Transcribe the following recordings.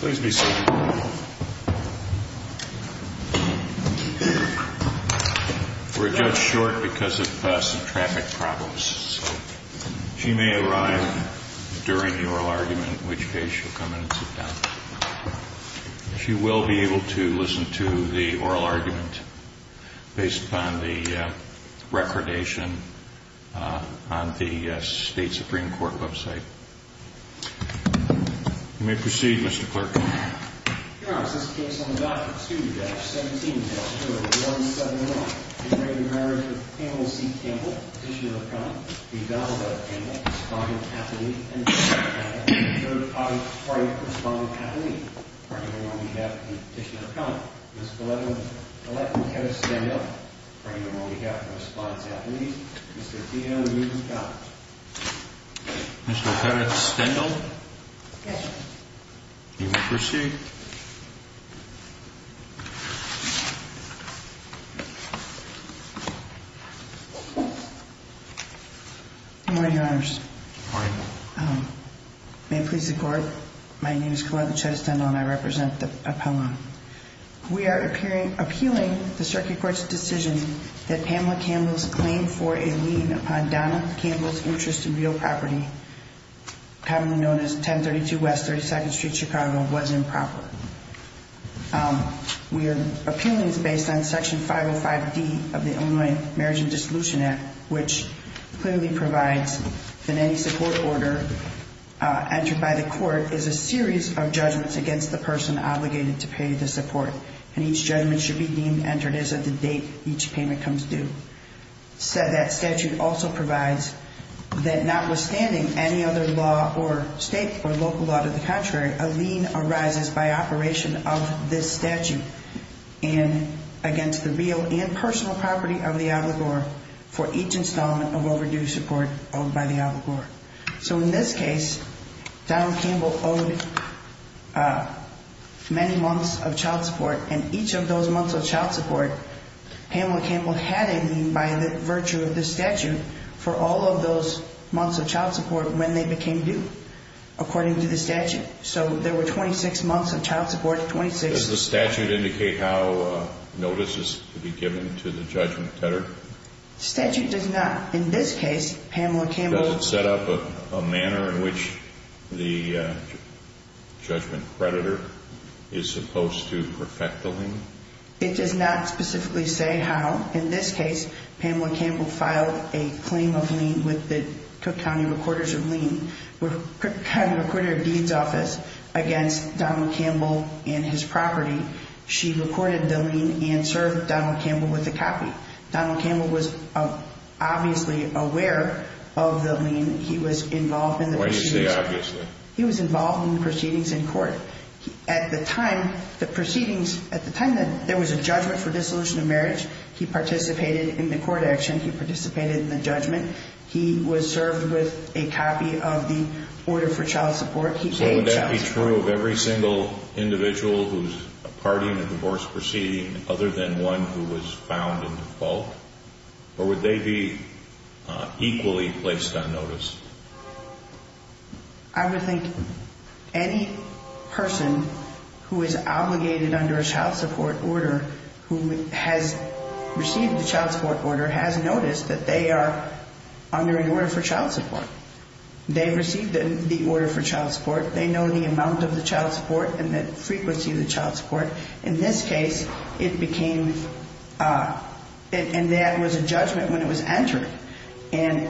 Please be seated. We're just short because of passing traffic problems. She may arrive during your argument, which case you come in. She will be able to listen to the oral argument based on the recordation on the State Supreme Court website. You may proceed, Mr. Clerk. Your Honor, this case on the Doctrine 2-17-0171. In the marriage of Campbell C. Campbell, Petitioner of Common, the advocate of Campbell, respond in affidavit. Third party respond in affidavit. Pardon me on behalf of the Petitioner of Common, Ms. Galetka Pettis-Stendhal. Pardon me on behalf of the respond in affidavit, Mr. T.L. Newton-Collins. Mr. Pettis-Stendhal? Yes, Your Honor. You may proceed. Good morning, Your Honors. Good morning. May it please the Court, my name is Galetka Pettis-Stendhal and I represent the appellant. We are appealing the Circuit Court's decision that Pamela Campbell's claim for a lien upon Donna Campbell's interest in real property, commonly known as 1032 West 32nd Street, Chicago, was improper. We are appealing this based on Section 505D of the Illinois Marriage and Dissolution Act, which clearly provides that any support order entered by the court is a series of judgments against the person obligated to pay the support. And each judgment should be deemed entered as of the date each payment comes due. That statute also provides that notwithstanding any other law or state or local law to the contrary, a lien arises by operation of this statute against the real and personal property of the obligor for each installment of overdue support owed by the obligor. So in this case, Donna Campbell owed many months of child support, and each of those months of child support, Pamela Campbell had a lien by virtue of this statute for all of those months of child support when they became due, according to the statute. So there were 26 months of child support, 26... Does the statute indicate how notice is to be given to the judgment tender? The statute does not. In this case, Pamela Campbell... Does it set up a manner in which the judgment creditor is supposed to perfect the lien? It does not specifically say how. In this case, Pamela Campbell filed a claim of lien with the Cook County Recorders of Lien, Cook County Recorder of Deeds Office, against Donald Campbell and his property. She recorded the lien and served Donald Campbell with a copy. Donald Campbell was obviously aware of the lien. He was involved in the proceedings. Why do you say obviously? He was involved in the proceedings in court. At the time, the proceedings... At the time that there was a judgment for dissolution of marriage, he participated in the court action. He participated in the judgment. He was served with a copy of the order for child support. So would that be true of every single individual who's a party in a divorce proceeding other than one who was found in default? Or would they be equally placed on notice? I would think any person who is obligated under a child support order, who has received a child support order, has noticed that they are under an order for child support. They received the order for child support. They know the amount of the child support and the frequency of the child support. In this case, it became... And that was a judgment when it was entered. And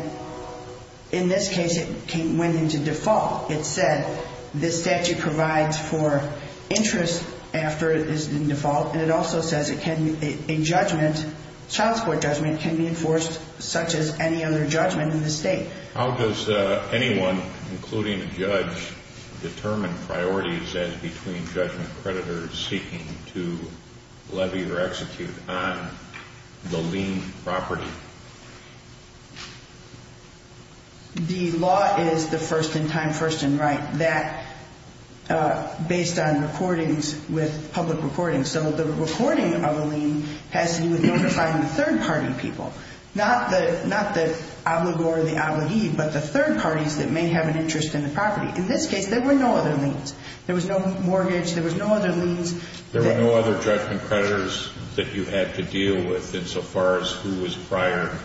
in this case, it went into default. It said this statute provides for interest after it is in default. And it also says a judgment, child support judgment, can be enforced such as any other judgment in the state. How does anyone, including a judge, determine priorities as between judgment creditors seeking to levy or execute on the lien property? The law is the first in time, first in right. That, based on recordings with public recordings. So the recording of a lien has to be with notified third party people. Not the obligor or the obligee, but the third parties that may have an interest in the property. In this case, there were no other liens. There was no mortgage. There was no other liens. There were no other judgment creditors that you had to deal with insofar as who was prior?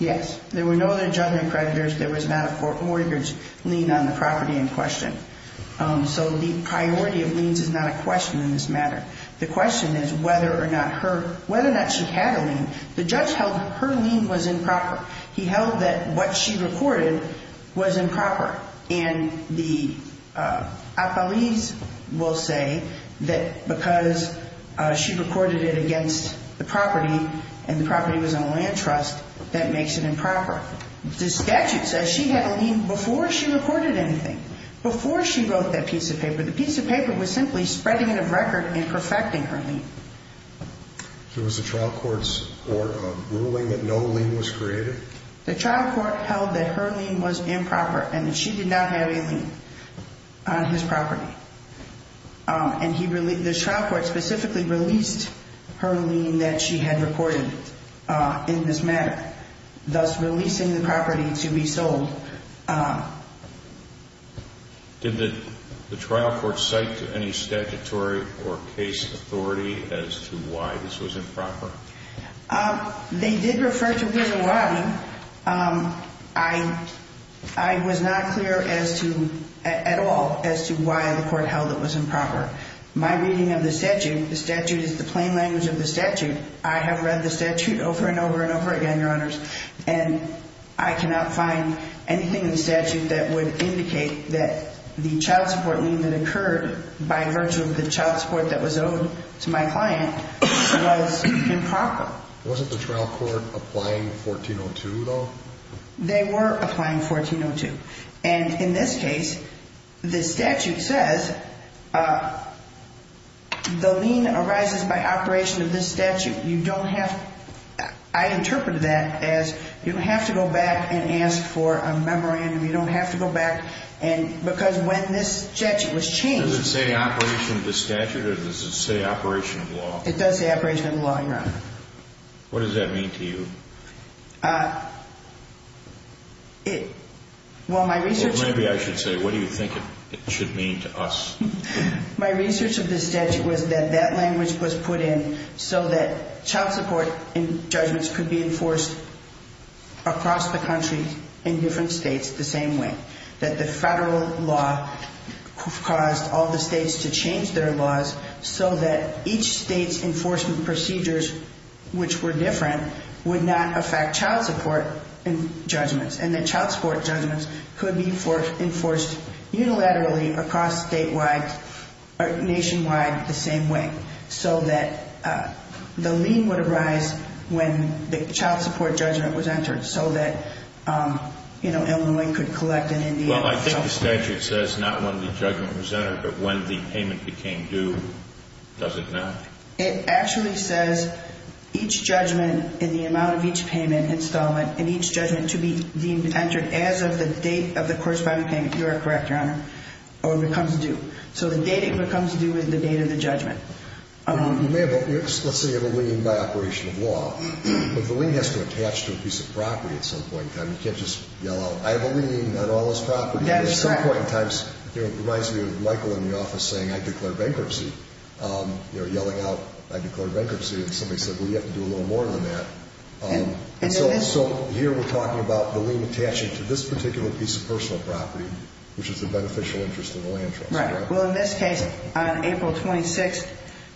Yes. There were no other judgment creditors. There was not a mortgage lien on the property in question. So the priority of liens is not a question in this matter. The question is whether or not she had a lien. The judge held her lien was improper. He held that what she recorded was improper. And the appellees will say that because she recorded it against the property and the property was on a land trust, that makes it improper. The statute says she had a lien before she recorded anything, before she wrote that piece of paper. The piece of paper was simply spreading it of record and perfecting her lien. So was the trial court's ruling that no lien was created? The trial court held that her lien was improper and that she did not have a lien on his property. And the trial court specifically released her lien that she had recorded in this matter, thus releasing the property to be sold. Did the trial court cite any statutory or case authority as to why this was improper? They did refer to Willow Watling. I was not clear as to, at all, as to why the court held it was improper. My reading of the statute, the statute is the plain language of the statute. I have read the statute over and over and over again, Your Honors. And I cannot find anything in the statute that would indicate that the child support lien that occurred by virtue of the child support that was owed to my client was improper. Wasn't the trial court applying 1402, though? They were applying 1402. And in this case, the statute says the lien arises by operation of this statute. I interpret that as you have to go back and ask for a memorandum. You don't have to go back. And because when this statute was changed... Does it say operation of the statute or does it say operation of law? It does say operation of the law, Your Honor. What does that mean to you? Well, my research... Or maybe I should say, what do you think it should mean to us? My research of the statute was that that language was put in so that child support judgments could be enforced across the country in different states the same way. That the federal law caused all the states to change their laws so that each state's enforcement procedures, which were different, would not affect child support judgments. And that child support judgments could be enforced unilaterally across statewide or nationwide the same way. So that the lien would arise when the child support judgment was entered. So that Illinois could collect in Indiana. Well, I think the statute says not when the judgment was entered, but when the payment became due. Does it not? It actually says each judgment and the amount of each payment installment and each judgment to be deemed entered as of the date of the corresponding payment. You are correct, Your Honor. Or when it becomes due. So the date it becomes due is the date of the judgment. Let's say you have a lien by operation of law. But the lien has to attach to a piece of property at some point in time. You can't just yell out, I have a lien on all this property. At some point in time, it reminds me of Michael in the office saying, I declare bankruptcy. Yelling out, I declare bankruptcy. And somebody said, well, you have to do a little more than that. And so here we're talking about the lien attaching to this particular piece of personal property, which is the beneficial interest of the land trust. Right. Well, in this case, on April 26,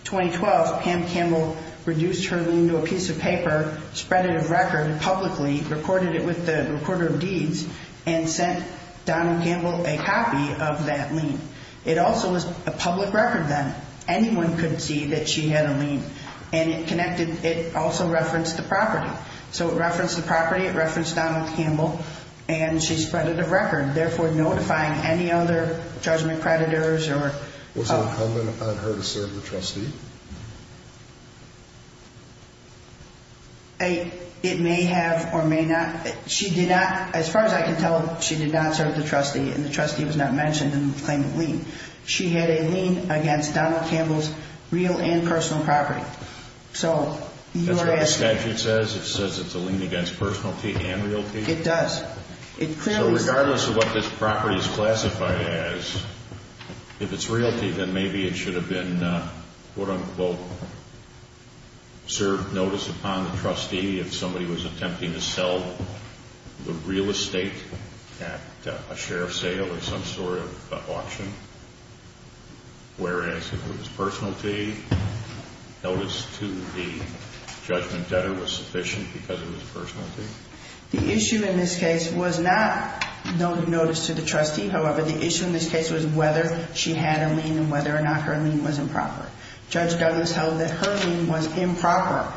2012, Pam Campbell reduced her lien to a piece of paper, spread it as record publicly, recorded it with the recorder of deeds, and sent Donald Campbell a copy of that lien. It also was a public record then. Anyone could see that she had a lien. And it connected, it also referenced the property. So it referenced the property. It referenced Donald Campbell. And she spread it as record, therefore notifying any other judgment creditors. Was it incumbent upon her to serve the trustee? It may have or may not. She did not, as far as I can tell, she did not serve the trustee. And the trustee was not mentioned in the claim of lien. She had a lien against Donald Campbell's real and personal property. So you are asking. That's what the statute says? It says it's a lien against personalty and realty? It does. So regardless of what this property is classified as, if it's realty, then maybe it should have been, quote, unquote, served notice upon the trustee if somebody was attempting to sell the real estate at a share sale or some sort of auction. Whereas if it was personalty, notice to the judgment debtor was sufficient because it was personalty. The issue in this case was not notice to the trustee. However, the issue in this case was whether she had a lien and whether or not her lien was improper. Judge Douglas held that her lien was improper.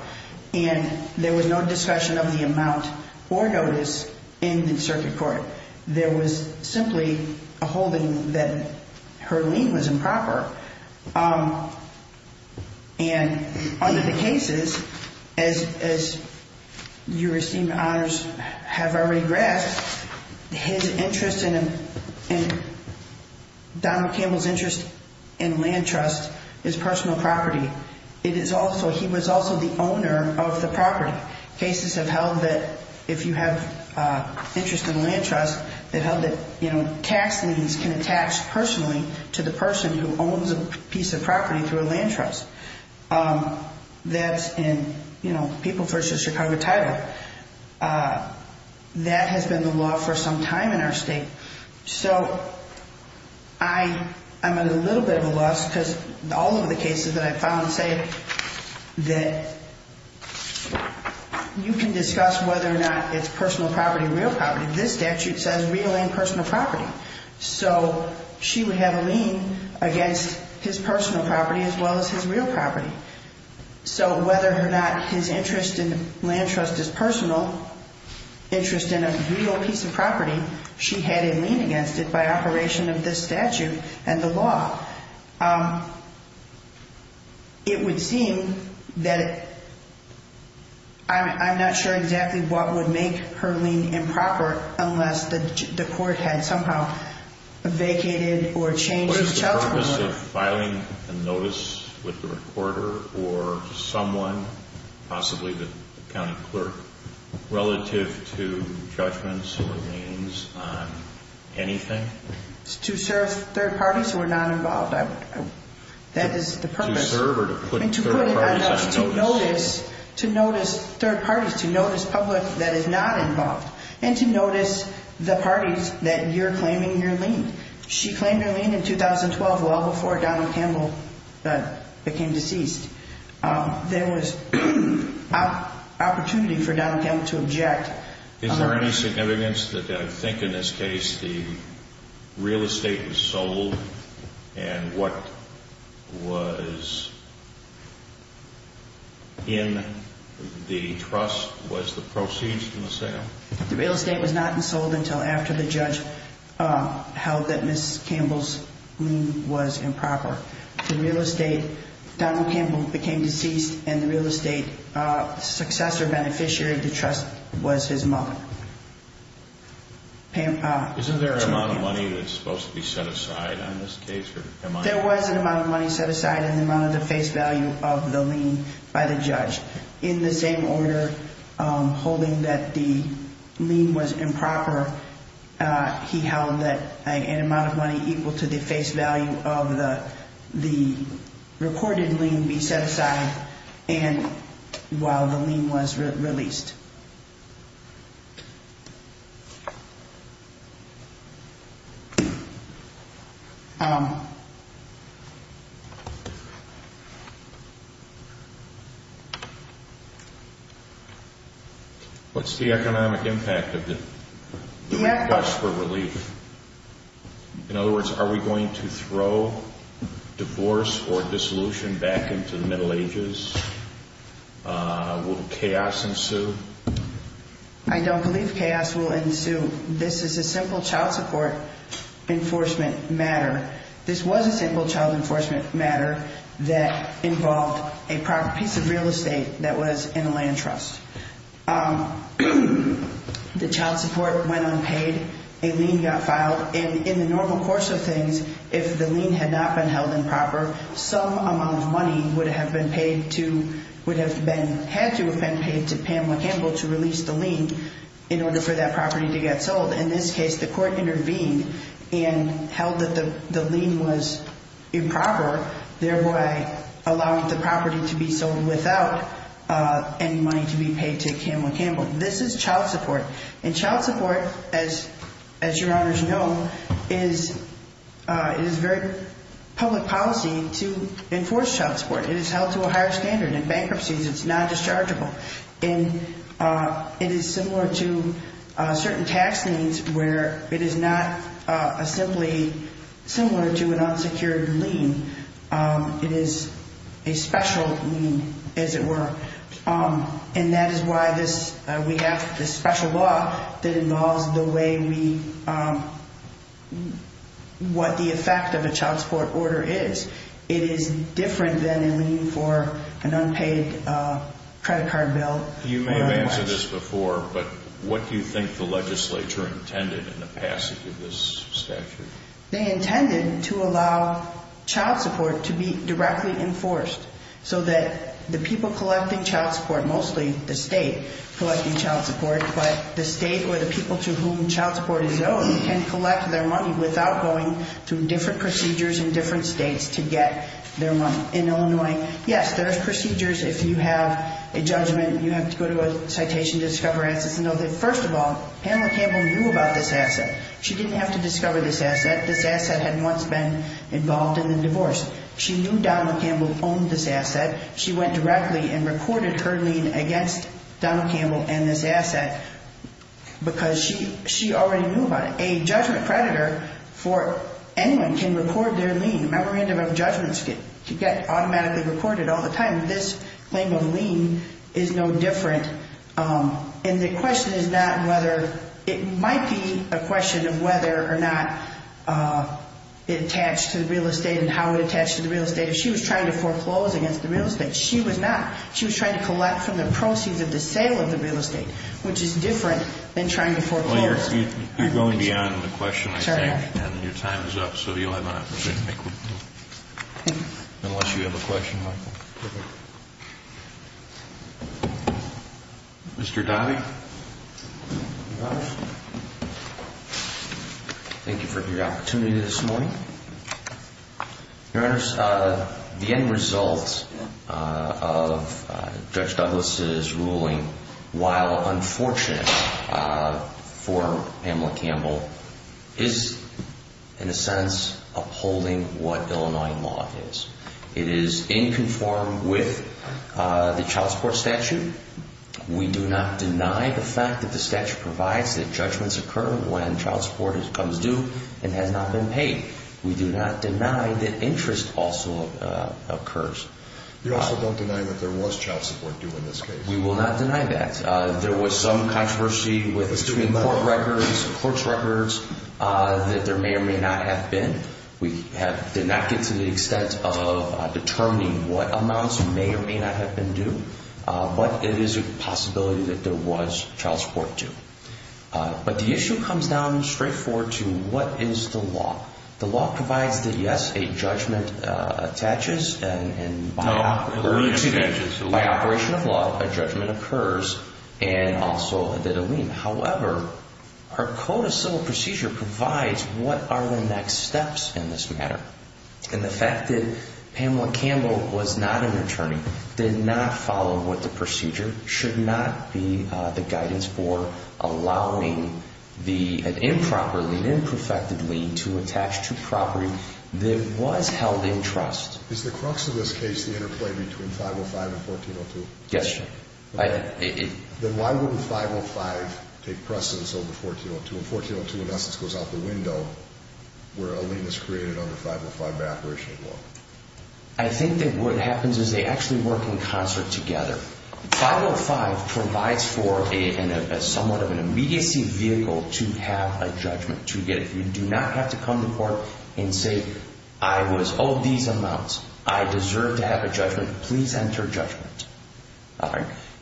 And there was no discussion of the amount or notice in the circuit court. There was simply a holding that her lien was improper. And under the cases, as your esteemed honors have already grasped, Donald Campbell's interest in land trust is personal property. He was also the owner of the property. Cases have held that if you have interest in land trust, they held that tax liens can attach personally to the person who owns a piece of property through a land trust. That's in People vs. Chicago Title. That has been the law for some time in our state. So I'm at a little bit of a loss because all of the cases that I found say that you can discuss whether or not it's personal property or real property. This statute says real and personal property. So she would have a lien against his personal property as well as his real property. So whether or not his interest in land trust is personal, interest in a real piece of property, she had a lien against it by operation of this statute and the law. It would seem that I'm not sure exactly what would make her lien improper unless the court had somehow vacated or changed the child support order. Is there a way of filing a notice with the recorder or someone, possibly the county clerk, relative to judgments or liens on anything? To serve third parties who are not involved. That is the purpose. To serve or to put third parties on notice? To notice third parties, to notice public that is not involved and to notice the parties that you're claiming your lien. She claimed her lien in 2012, well before Donald Campbell became deceased. There was opportunity for Donald Campbell to object. Is there any significance that I think in this case the real estate was sold and what was in the trust was the proceeds from the sale? The real estate was not sold until after the judge held that Ms. Campbell's lien was improper. The real estate, Donald Campbell became deceased and the real estate successor beneficiary of the trust was his mother. Isn't there an amount of money that's supposed to be set aside on this case? There was an amount of money set aside in the amount of the face value of the lien by the judge. In the same order, holding that the lien was improper, he held that an amount of money equal to the face value of the recorded lien be set aside while the lien was released. What's the economic impact of the request for relief? In other words, are we going to throw divorce or dissolution back into the Middle Ages? Will chaos ensue? I don't believe chaos will ensue. This is a simple child support enforcement matter. This was a simple child enforcement matter that involved a piece of real estate that was in a land trust. The child support went unpaid. A lien got filed. And in the normal course of things, if the lien had not been held improper, some amount of money would have had to have been paid to Pamela Campbell to release the lien in order for that property to get sold. In this case, the court intervened and held that the lien was improper, thereby allowing the property to be sold without any money to be paid to Pamela Campbell. This is child support. And child support, as your honors know, is very public policy to enforce child support. It is held to a higher standard. In bankruptcies, it's non-dischargeable. It is similar to certain tax liens where it is not simply similar to an unsecured lien. It is a special lien, as it were. And that is why we have this special law that involves what the effect of a child support order is. It is different than a lien for an unpaid credit card bill. You may have answered this before, but what do you think the legislature intended in the passage of this statute? They intended to allow child support to be directly enforced so that the people collecting child support, mostly the state collecting child support, but the state or the people to whom child support is owed can collect their money without going through different procedures in different states to get their money. In Illinois, yes, there are procedures. If you have a judgment, you have to go to a citation to discover assets. First of all, Pamela Campbell knew about this asset. She didn't have to discover this asset. This asset had once been involved in a divorce. She knew Donald Campbell owned this asset. She went directly and recorded her lien against Donald Campbell and this asset because she already knew about it. A judgment creditor for anyone can record their lien. Memorandum of judgments can get automatically recorded all the time. This claim of lien is no different. And the question is not whether it might be a question of whether or not it attached to the real estate and how it attached to the real estate. If she was trying to foreclose against the real estate, she was not. She was trying to collect from the proceeds of the sale of the real estate, which is different than trying to foreclose. You're going beyond the question, I think, and your time is up. So you'll have an opportunity to make one. Unless you have a question, Michael. Mr. Dottie? Thank you for your opportunity this morning. Your Honor, the end result of Judge Douglas' ruling, while unfortunate for Pamela Campbell, is in a sense upholding what Illinois law is. It is in conform with the child support statute. We do not deny the fact that the statute provides that judgments occur when child support comes due and has not been paid. We do not deny that interest also occurs. You also don't deny that there was child support due in this case. We will not deny that. There was some controversy between court records, clerk's records, that there may or may not have been. We did not get to the extent of determining what amounts may or may not have been due. But it is a possibility that there was child support due. But the issue comes down straightforward to what is the law. The law provides that, yes, a judgment attaches and by operation of law, a judgment occurs and also added a lien. However, our code of civil procedure provides what are the next steps in this matter. And the fact that Pamela Campbell was not an attorney, did not follow what the procedure, should not be the guidance for allowing an improper lien, imperfected lien to attach to property that was held in trust. Is the crux of this case the interplay between 505 and 1402? Yes, sir. Then why wouldn't 505 take precedence over 1402? Well, 1402 in essence goes out the window where a lien is created under 505 by operation of law. I think that what happens is they actually work in concert together. 505 provides for somewhat of an immediacy vehicle to have a judgment. You do not have to come to court and say, I was owed these amounts. I deserve to have a judgment. Please enter judgment.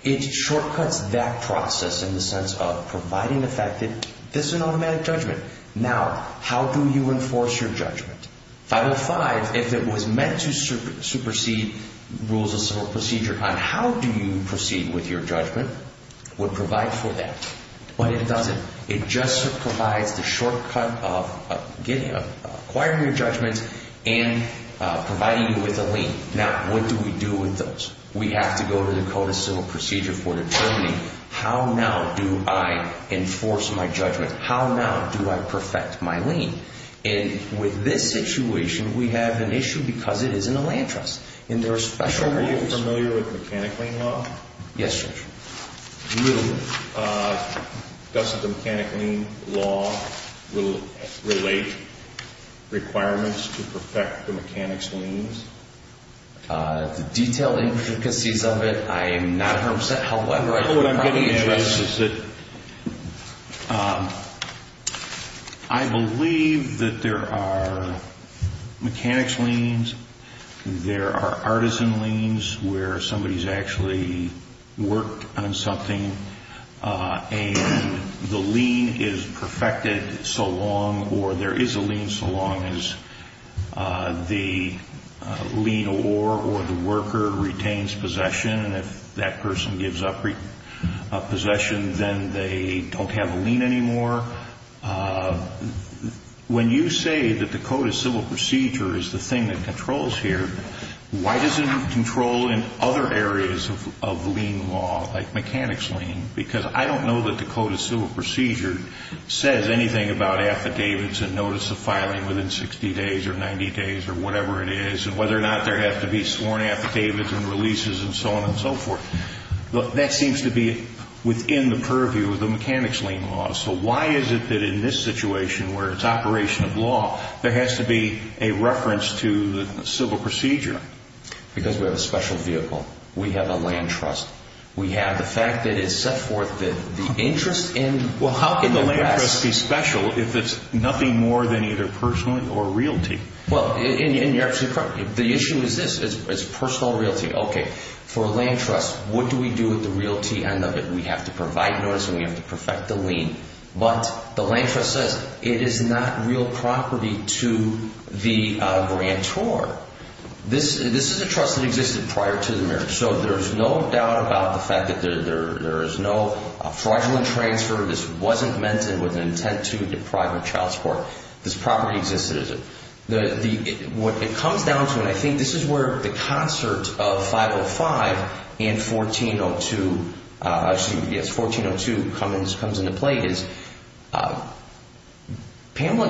It shortcuts that process in the sense of providing effective, this is an automatic judgment. Now, how do you enforce your judgment? 505, if it was meant to supersede rules of civil procedure on how do you proceed with your judgment, would provide for that. But it doesn't. It just provides the shortcut of acquiring your judgment and providing you with a lien. Now, what do we do with those? We have to go to the code of civil procedure for determining how now do I enforce my judgment? How now do I perfect my lien? And with this situation, we have an issue because it is in a land trust. And there are special rules. Are you familiar with mechanic lien law? Yes, Judge. Do you? Doesn't the mechanic lien law relate requirements to perfect the mechanic's liens? The detailed intricacies of it, I am not aware of. What I'm getting at is that I believe that there are mechanics liens. There are artisan liens where somebody has actually worked on something. And the lien is perfected so long or there is a lien so long as the lien or the worker retains possession. And if that person gives up possession, then they don't have a lien anymore. When you say that the code of civil procedure is the thing that controls here, why doesn't it control in other areas of lien law like mechanics lien? Because I don't know that the code of civil procedure says anything about affidavits and notice of filing within 60 days or 90 days or whatever it is and whether or not there have to be sworn affidavits and releases and so on and so forth. That seems to be within the purview of the mechanics lien law. So why is it that in this situation where it's operation of law, there has to be a reference to the civil procedure? Because we have a special vehicle. We have a land trust. We have the fact that it's set forth that the interest in the rest... Well, how can the land trust be special if it's nothing more than either personal or realty? Well, and you're absolutely correct. The issue is this. It's personal realty. Okay, for a land trust, what do we do with the realty end of it? We have to provide notice and we have to perfect the lien. But the land trust says it is not real property to the grantor. This is a trust that existed prior to the marriage, so there is no doubt about the fact that there is no fraudulent transfer. This wasn't meant with an intent to deprive of child support. This property existed. What it comes down to, and I think this is where the concert of 505 and 1402 comes into play, is Pamela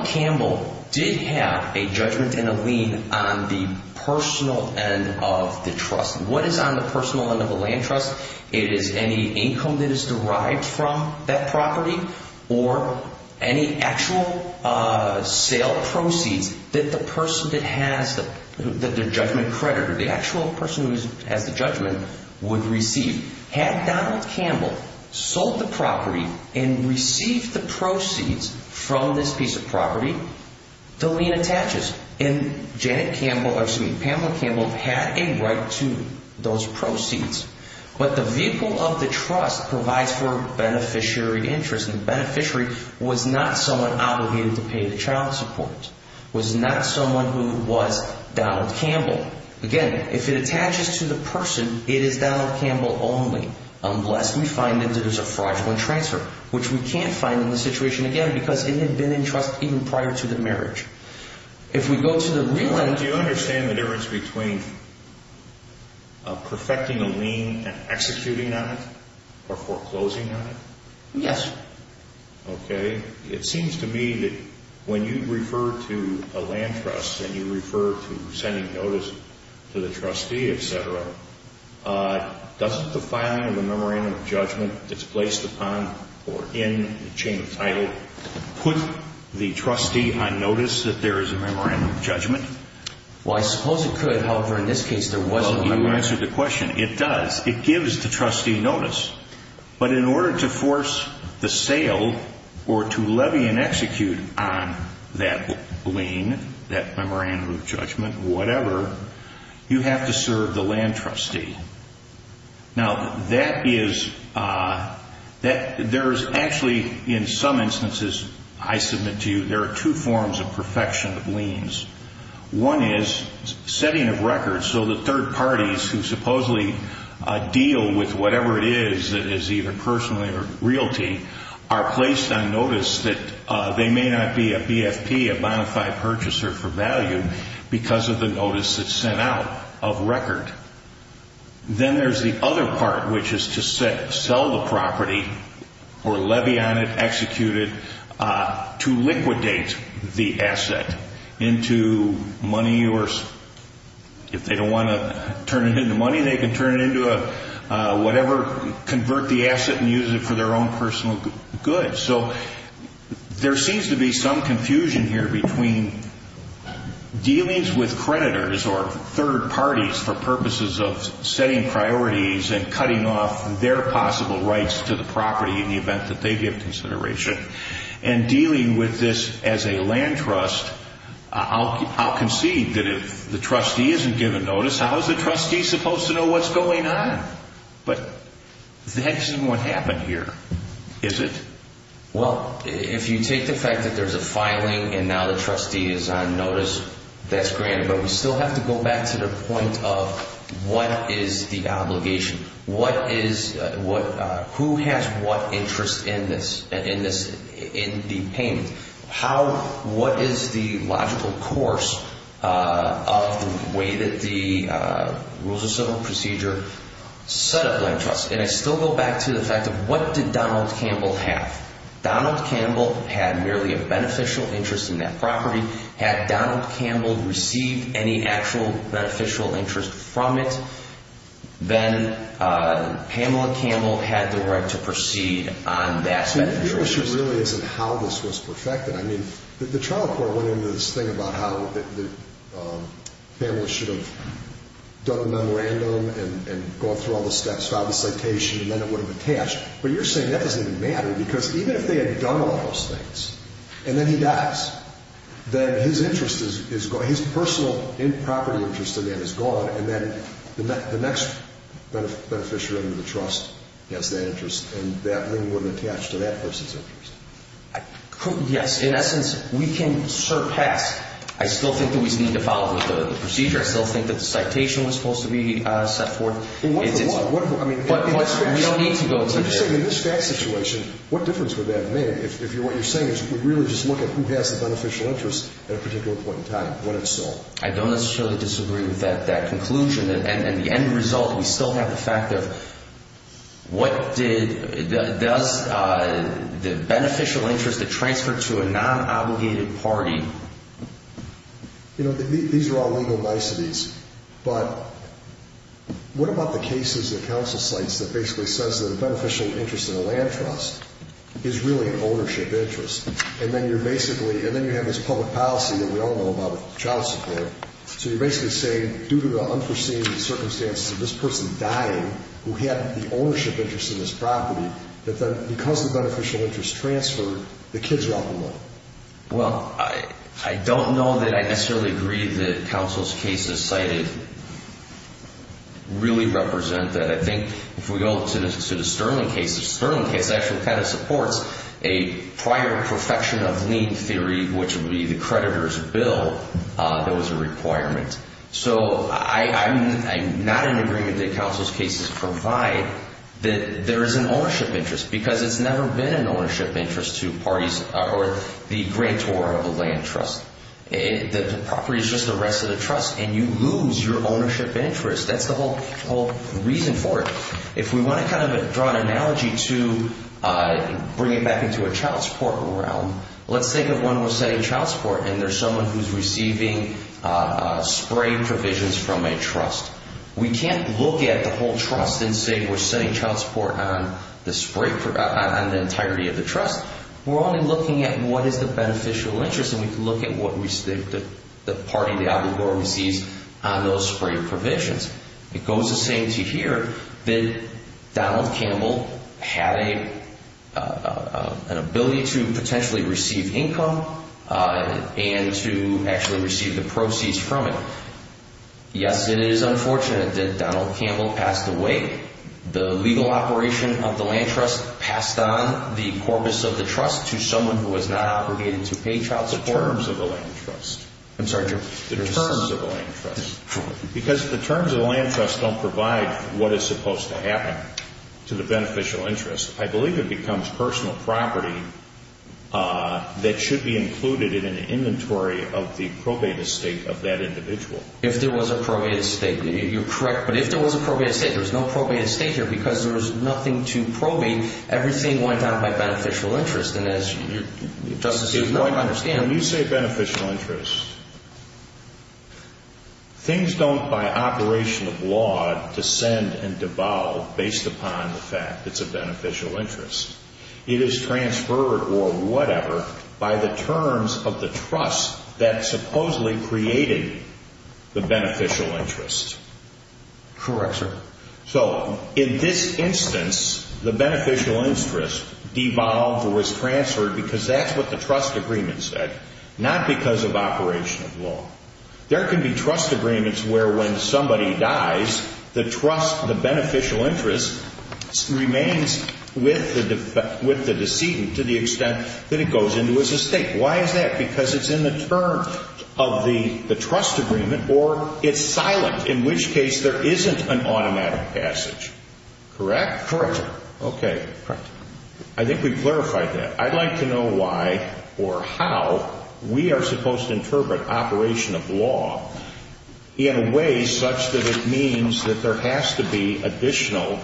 Campbell did have a judgment and a lien on the personal end of the trust. What is on the personal end of a land trust? It is any income that is derived from that property or any actual sale proceeds that the person that has the judgment credited, the actual person who has the judgment, would receive. Had Donald Campbell sold the property and received the proceeds from this piece of property, the lien attaches. And Pamela Campbell had a right to those proceeds. But the vehicle of the trust provides for beneficiary interest, and the beneficiary was not someone obligated to pay the child support, was not someone who was Donald Campbell. Again, if it attaches to the person, it is Donald Campbell only. Unless we find that there is a fraudulent transfer, which we can't find in this situation, again, because it had been in trust even prior to the marriage. If we go to the real end... Do you understand the difference between perfecting a lien and executing on it, or foreclosing on it? Yes. Okay. It seems to me that when you refer to a land trust and you refer to sending notice to the trustee, et cetera, doesn't the filing of the memorandum of judgment that's placed upon or in the chain of title put the trustee on notice that there is a memorandum of judgment? Well, I suppose it could. However, in this case, there wasn't. Well, you answered the question. It does. It gives the trustee notice. But in order to force the sale or to levy and execute on that lien, that memorandum of judgment, whatever, you have to serve the land trustee. Now, that is... There is actually, in some instances, I submit to you, there are two forms of perfection of liens. One is setting of records so that third parties who supposedly deal with whatever it is, that is either personal or realty, are placed on notice that they may not be a BFP, a bonafide purchaser for value, because of the notice that's sent out of record. Then there's the other part, which is to sell the property or levy on it, execute it, to liquidate the asset into money or, if they don't want to turn it into money, they can turn it into whatever, convert the asset and use it for their own personal good. So there seems to be some confusion here between dealings with creditors or third parties for purposes of setting priorities and cutting off their possible rights to the property in the event that they give consideration and dealing with this as a land trust. I'll concede that if the trustee isn't given notice, how is the trustee supposed to know what's going on? But that isn't what happened here, is it? Well, if you take the fact that there's a filing and now the trustee is on notice, that's granted, but we still have to go back to the point of what is the obligation? Who has what interest in the payment? What is the logical course of the way that the Rules of Civil Procedure set up land trusts? And I still go back to the fact of what did Donald Campbell have? Donald Campbell had merely a beneficial interest in that property. Had Donald Campbell received any actual beneficial interest from it, then Pamela Campbell had the right to proceed on that beneficial interest. The issue really isn't how this was perfected. I mean, the trial court went into this thing about how Pamela should have done a memorandum and gone through all the steps, filed the citation, and then it would have attached. But you're saying that doesn't even matter because even if they had done all those things and then he dies, then his personal property interest in that is gone and then the next beneficiary under the trust has that interest and that ring wouldn't attach to that person's interest. Yes, in essence, we can surpass. I still think that we need to follow the procedure. I still think that the citation was supposed to be set forth. In what form? We don't need to go into that. You're saying in this fact situation, what difference would that make? If what you're saying is we really just look at who has the beneficial interest at a particular point in time, when it's sold. I don't necessarily disagree with that conclusion. In the end result, we still have the fact of what did the beneficial interest that transferred to a non-obligated party. You know, these are all legal niceties, but what about the cases at council sites that basically says that a beneficial interest in a land trust is really an ownership interest and then you're basically, and then you have this public policy that we all know about with child support. So you're basically saying due to the unforeseen circumstances of this person dying who had the ownership interest in this property, that then because the beneficial interest transferred, the kids are out the money. Well, I don't know that I necessarily agree that council's cases cited really represent that. I think if we go to the Sterling case, the Sterling case actually kind of supports a prior perfection of lien theory, which would be the creditor's bill that was a requirement. So I'm not in agreement that council's cases provide that there is an ownership interest because it's never been an ownership interest to parties or the grantor of a land trust. The property is just the rest of the trust and you lose your ownership interest. That's the whole reason for it. If we want to kind of draw an analogy to bring it back into a child support realm, let's think of one who was setting child support and there's someone who's receiving spray provisions from a trust. We can't look at the whole trust and say we're setting child support on the entirety of the trust. We're only looking at what is the beneficial interest and we can look at what the party, the obligor, receives on those spray provisions. It goes the same to here that Donald Campbell had an ability to potentially receive income and to actually receive the proceeds from it. Yes, it is unfortunate that Donald Campbell passed away. The legal operation of the land trust passed on the corpus of the trust to someone who was not obligated to pay child support. The terms of the land trust. I'm sorry, Jim. The terms of the land trust. Because the terms of the land trust don't provide what is supposed to happen to the beneficial interest. I believe it becomes personal property that should be included in an inventory of the probate estate of that individual. If there was a probate estate, you're correct. But if there was a probate estate, there was no probate estate here because there was nothing to probate. Everything went down by beneficial interest. And as Justice is going to understand. When you say beneficial interest, things don't, by operation of law, descend and devolve based upon the fact it's a beneficial interest. It is transferred or whatever by the terms of the trust that supposedly created the beneficial interest. Correct, sir. So in this instance, the beneficial interest devolved or was transferred because that's what the trust agreement said, not because of operation of law. There can be trust agreements where when somebody dies, the trust, the beneficial interest remains with the decedent to the extent that it goes into his estate. Why is that? Because it's in the terms of the trust agreement or it's silent, in which case there isn't an automatic passage. Correct? Correct, sir. Okay. Correct. I think we've clarified that. I'd like to know why or how we are supposed to interpret operation of law in a way such that it means that there has to be additional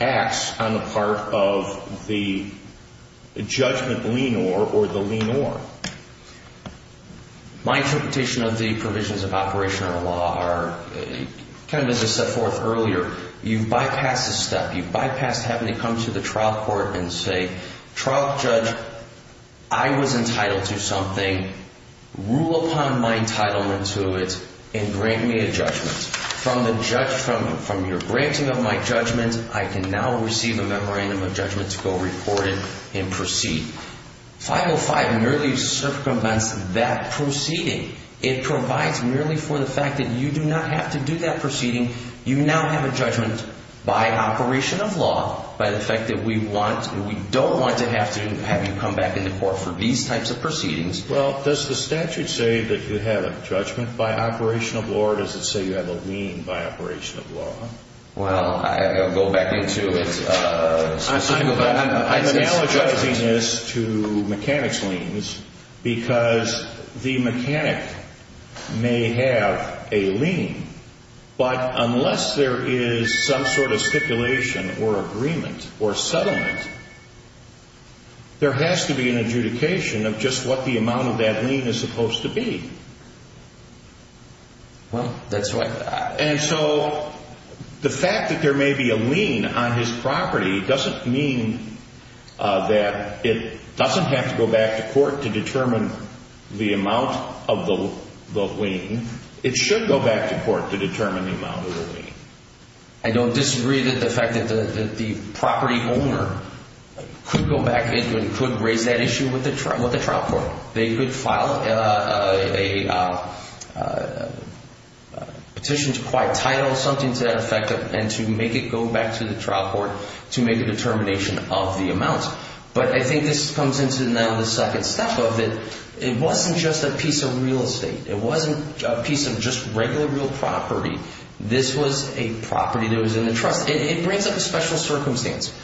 acts on the part of the judgment lean or or the lean or. My interpretation of the provisions of operation of law are kind of as I set forth earlier, you bypass this step. You bypass having to come to the trial court and say, trial judge, I was entitled to something. Rule upon my entitlement to it and grant me a judgment. From your granting of my judgment, I can now receive a memorandum of judgment to go report it and proceed. 505 merely circumvents that proceeding. It provides merely for the fact that you do not have to do that proceeding. You now have a judgment by operation of law by the fact that we want and we don't want to have to have you come back into court for these types of proceedings. Well, does the statute say that you have a judgment by operation of law or does it say you have a lean by operation of law? Well, I'll go back into it. I'm analogizing this to mechanics leans because the mechanic may have a lean, but unless there is some sort of stipulation or agreement or settlement, there has to be an adjudication of just what the amount of that lean is supposed to be. And so the fact that there may be a lean on his property doesn't mean that it doesn't have to go back to court to determine the amount of the lean. It should go back to court to determine the amount of the lean. I don't disagree that the fact that the property owner could go back into it and could raise that issue with the trial court. They could file a petition to acquire title, something to that effect, and to make it go back to the trial court to make a determination of the amount. But I think this comes into now the second step of it. It wasn't just a piece of real estate. It wasn't a piece of just regular real property. This was a property that was in the trust. It brings up a special circumstance.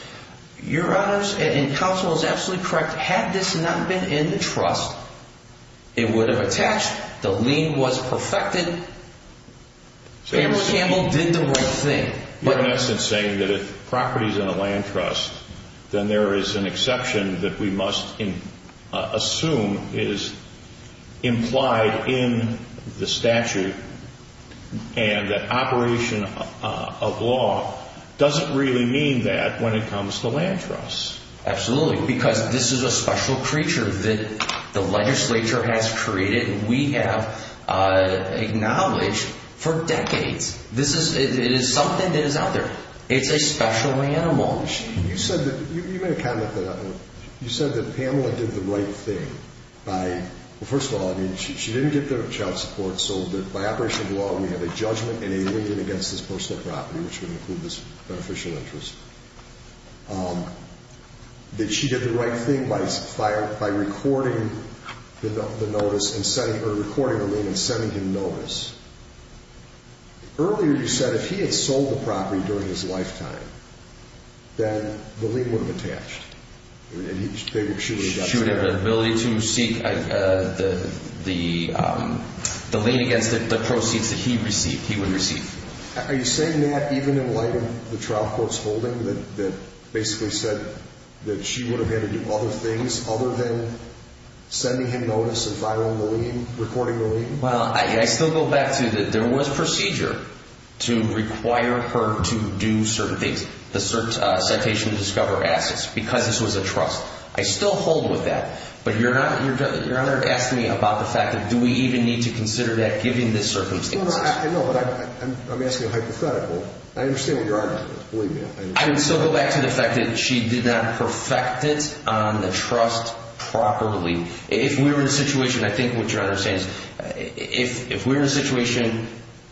Your Honor, and counsel is absolutely correct, had this not been in the trust, it would have attached. The lean was perfected. Pamela Campbell did the right thing. You're, in essence, saying that if property is in a land trust, then there is an exception that we must assume is implied in the statute and that operation of law doesn't really mean that when it comes to land trusts. Absolutely, because this is a special creature that the legislature has created and we have acknowledged for decades. It is something that is out there. It's a special animal. You said that Pamela did the right thing. First of all, she didn't get the child support, so by operation of law we have a judgment and a lien against this personal property, which would include this beneficial interest. She did the right thing by recording the lien and sending him notice. Earlier you said if he had sold the property during his lifetime, then the lien would have attached. She would have the ability to seek the lien against the proceeds that he would receive. Are you saying that even in light of the trial court's holding that basically said that she would have had to do other things other than sending him notice and filing the lien, recording the lien? I still go back to that there was procedure to require her to do certain things, the citation to discover assets, because this was a trust. I still hold with that, but Your Honor asked me about the fact that do we even need to consider that given this circumstance? I know, but I'm asking a hypothetical. I understand what your argument is, believe me. I would still go back to the fact that she did not perfect it on the trust properly. If we were in a situation, I think what Your Honor is saying is if we were in a situation,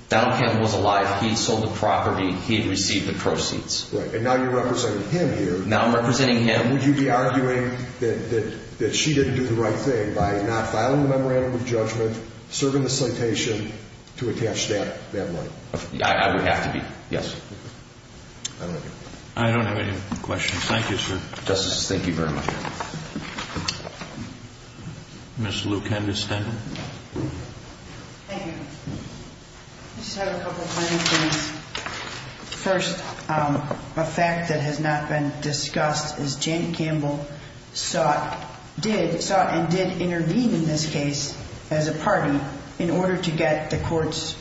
Donald Camp was alive, he had sold the property, he had received the proceeds. Right, and now you're representing him here. Now I'm representing him. Would you be arguing that she didn't do the right thing by not filing the memorandum of judgment, serving the citation to attach that money? I would have to be, yes. I don't know. I don't have any questions. Thank you, sir. Justices, thank you very much. Ms. Lew-Kendall. Thank you. I just have a couple of minor things. First, a fact that has not been discussed is Janet Campbell sought and did intervene in this case as a party in order to get the courts,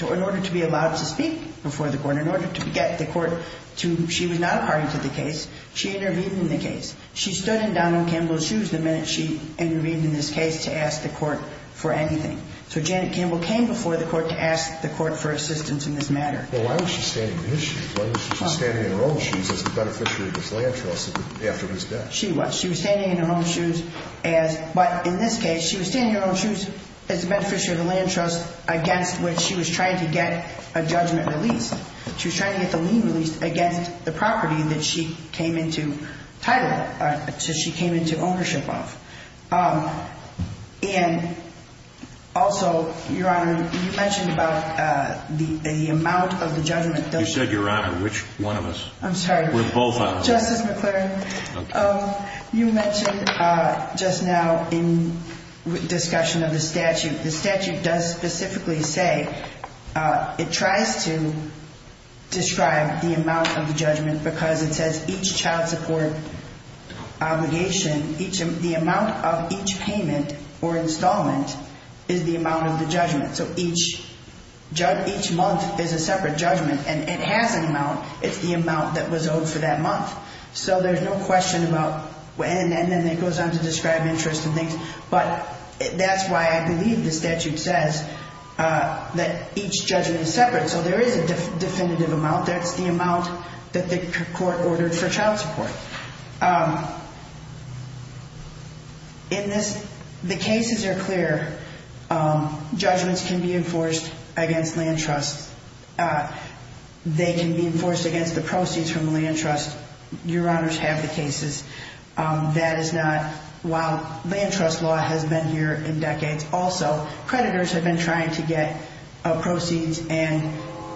in order to be allowed to speak before the court, in order to get the court to, she was not a party to the case, she intervened in the case. She stood in Donald Campbell's shoes the minute she intervened in this case to ask the court for anything. So Janet Campbell came before the court to ask the court for assistance in this matter. Well, why was she standing in his shoes? Why was she standing in her own shoes as the beneficiary of this land trust after his death? She was. She was standing in her own shoes as, but in this case, she was standing in her own shoes as a beneficiary of the land trust against which she was trying to get a judgment released. She was trying to get the lien released against the property that she came into title, that she came into ownership of. And also, Your Honor, you mentioned about the amount of the judgment. You said, Your Honor, which one of us? I'm sorry. We're both on it. Justice McClaren. Okay. Well, you mentioned just now in discussion of the statute, the statute does specifically say it tries to describe the amount of the judgment because it says each child support obligation, the amount of each payment or installment is the amount of the judgment. So each month is a separate judgment, and it has an amount. It's the amount that was owed for that month. So there's no question about, and then it goes on to describe interest and things. But that's why I believe the statute says that each judgment is separate. So there is a definitive amount. That's the amount that the court ordered for child support. In this, the cases are clear. Judgments can be enforced against land trusts. They can be enforced against the proceeds from land trusts. Your Honors have the cases. That is not, while land trust law has been here in decades also, creditors have been trying to get proceeds and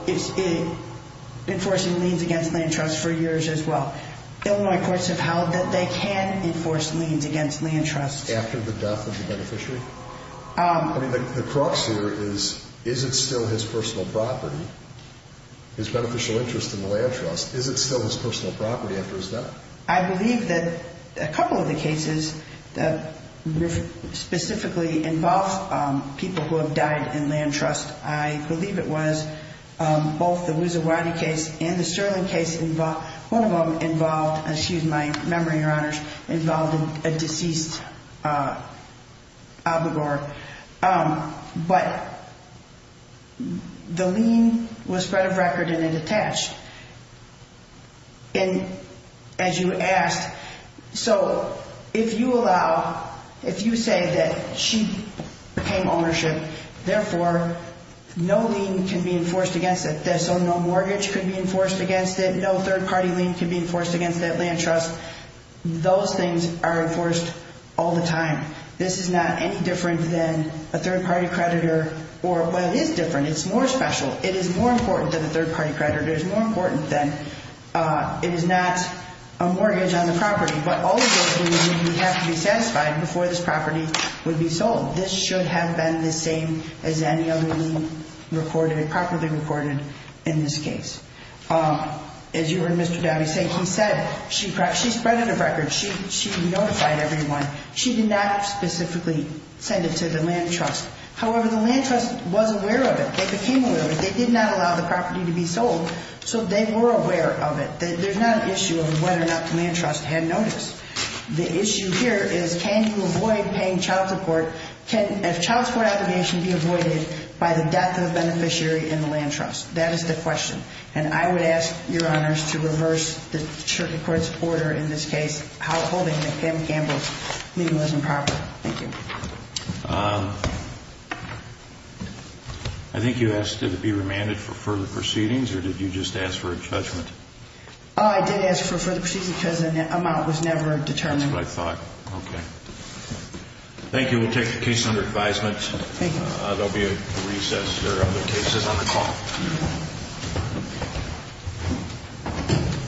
enforcing liens against land trusts for years as well. Illinois courts have held that they can enforce liens against land trusts. After the death of the beneficiary? I mean, the crux here is, is it still his personal property, his beneficial interest in the land trust? Is it still his personal property after his death? I believe that a couple of the cases that specifically involve people who have died in land trust, I believe it was both the Wuzerwati case and the Sterling case. One of them involved, excuse my memory, Your Honors, involved a deceased abogor. But the lien was spread of record and it attached. And as you asked, so if you allow, if you say that she became ownership, therefore, no lien can be enforced against it. So no mortgage can be enforced against it. No third-party lien can be enforced against that land trust. Those things are enforced all the time. This is not any different than a third-party creditor or, well, it is different. It's more special. It is more important than a third-party creditor. It is more important than, it is not a mortgage on the property. But all of those things would have to be satisfied before this property would be sold. This should have been the same as any other lien recorded, properly recorded in this case. As you heard Mr. Downey say, he said she spread it of record. She notified everyone. She did not specifically send it to the land trust. However, the land trust was aware of it. They became aware of it. They did not allow the property to be sold, so they were aware of it. There's not an issue of whether or not the land trust had noticed. The issue here is can you avoid paying child support? Can a child support obligation be avoided by the death of the beneficiary in the land trust? That is the question. And I would ask your honors to reverse the circuit court's order in this case, holding that Kim Campbell's lien was improper. Thank you. I think you asked did it be remanded for further proceedings or did you just ask for a judgment? I did ask for further proceedings because the amount was never determined. That's what I thought. Okay. Thank you. We'll take the case under advisement. Thank you. There will be a recess. There are other cases on the call.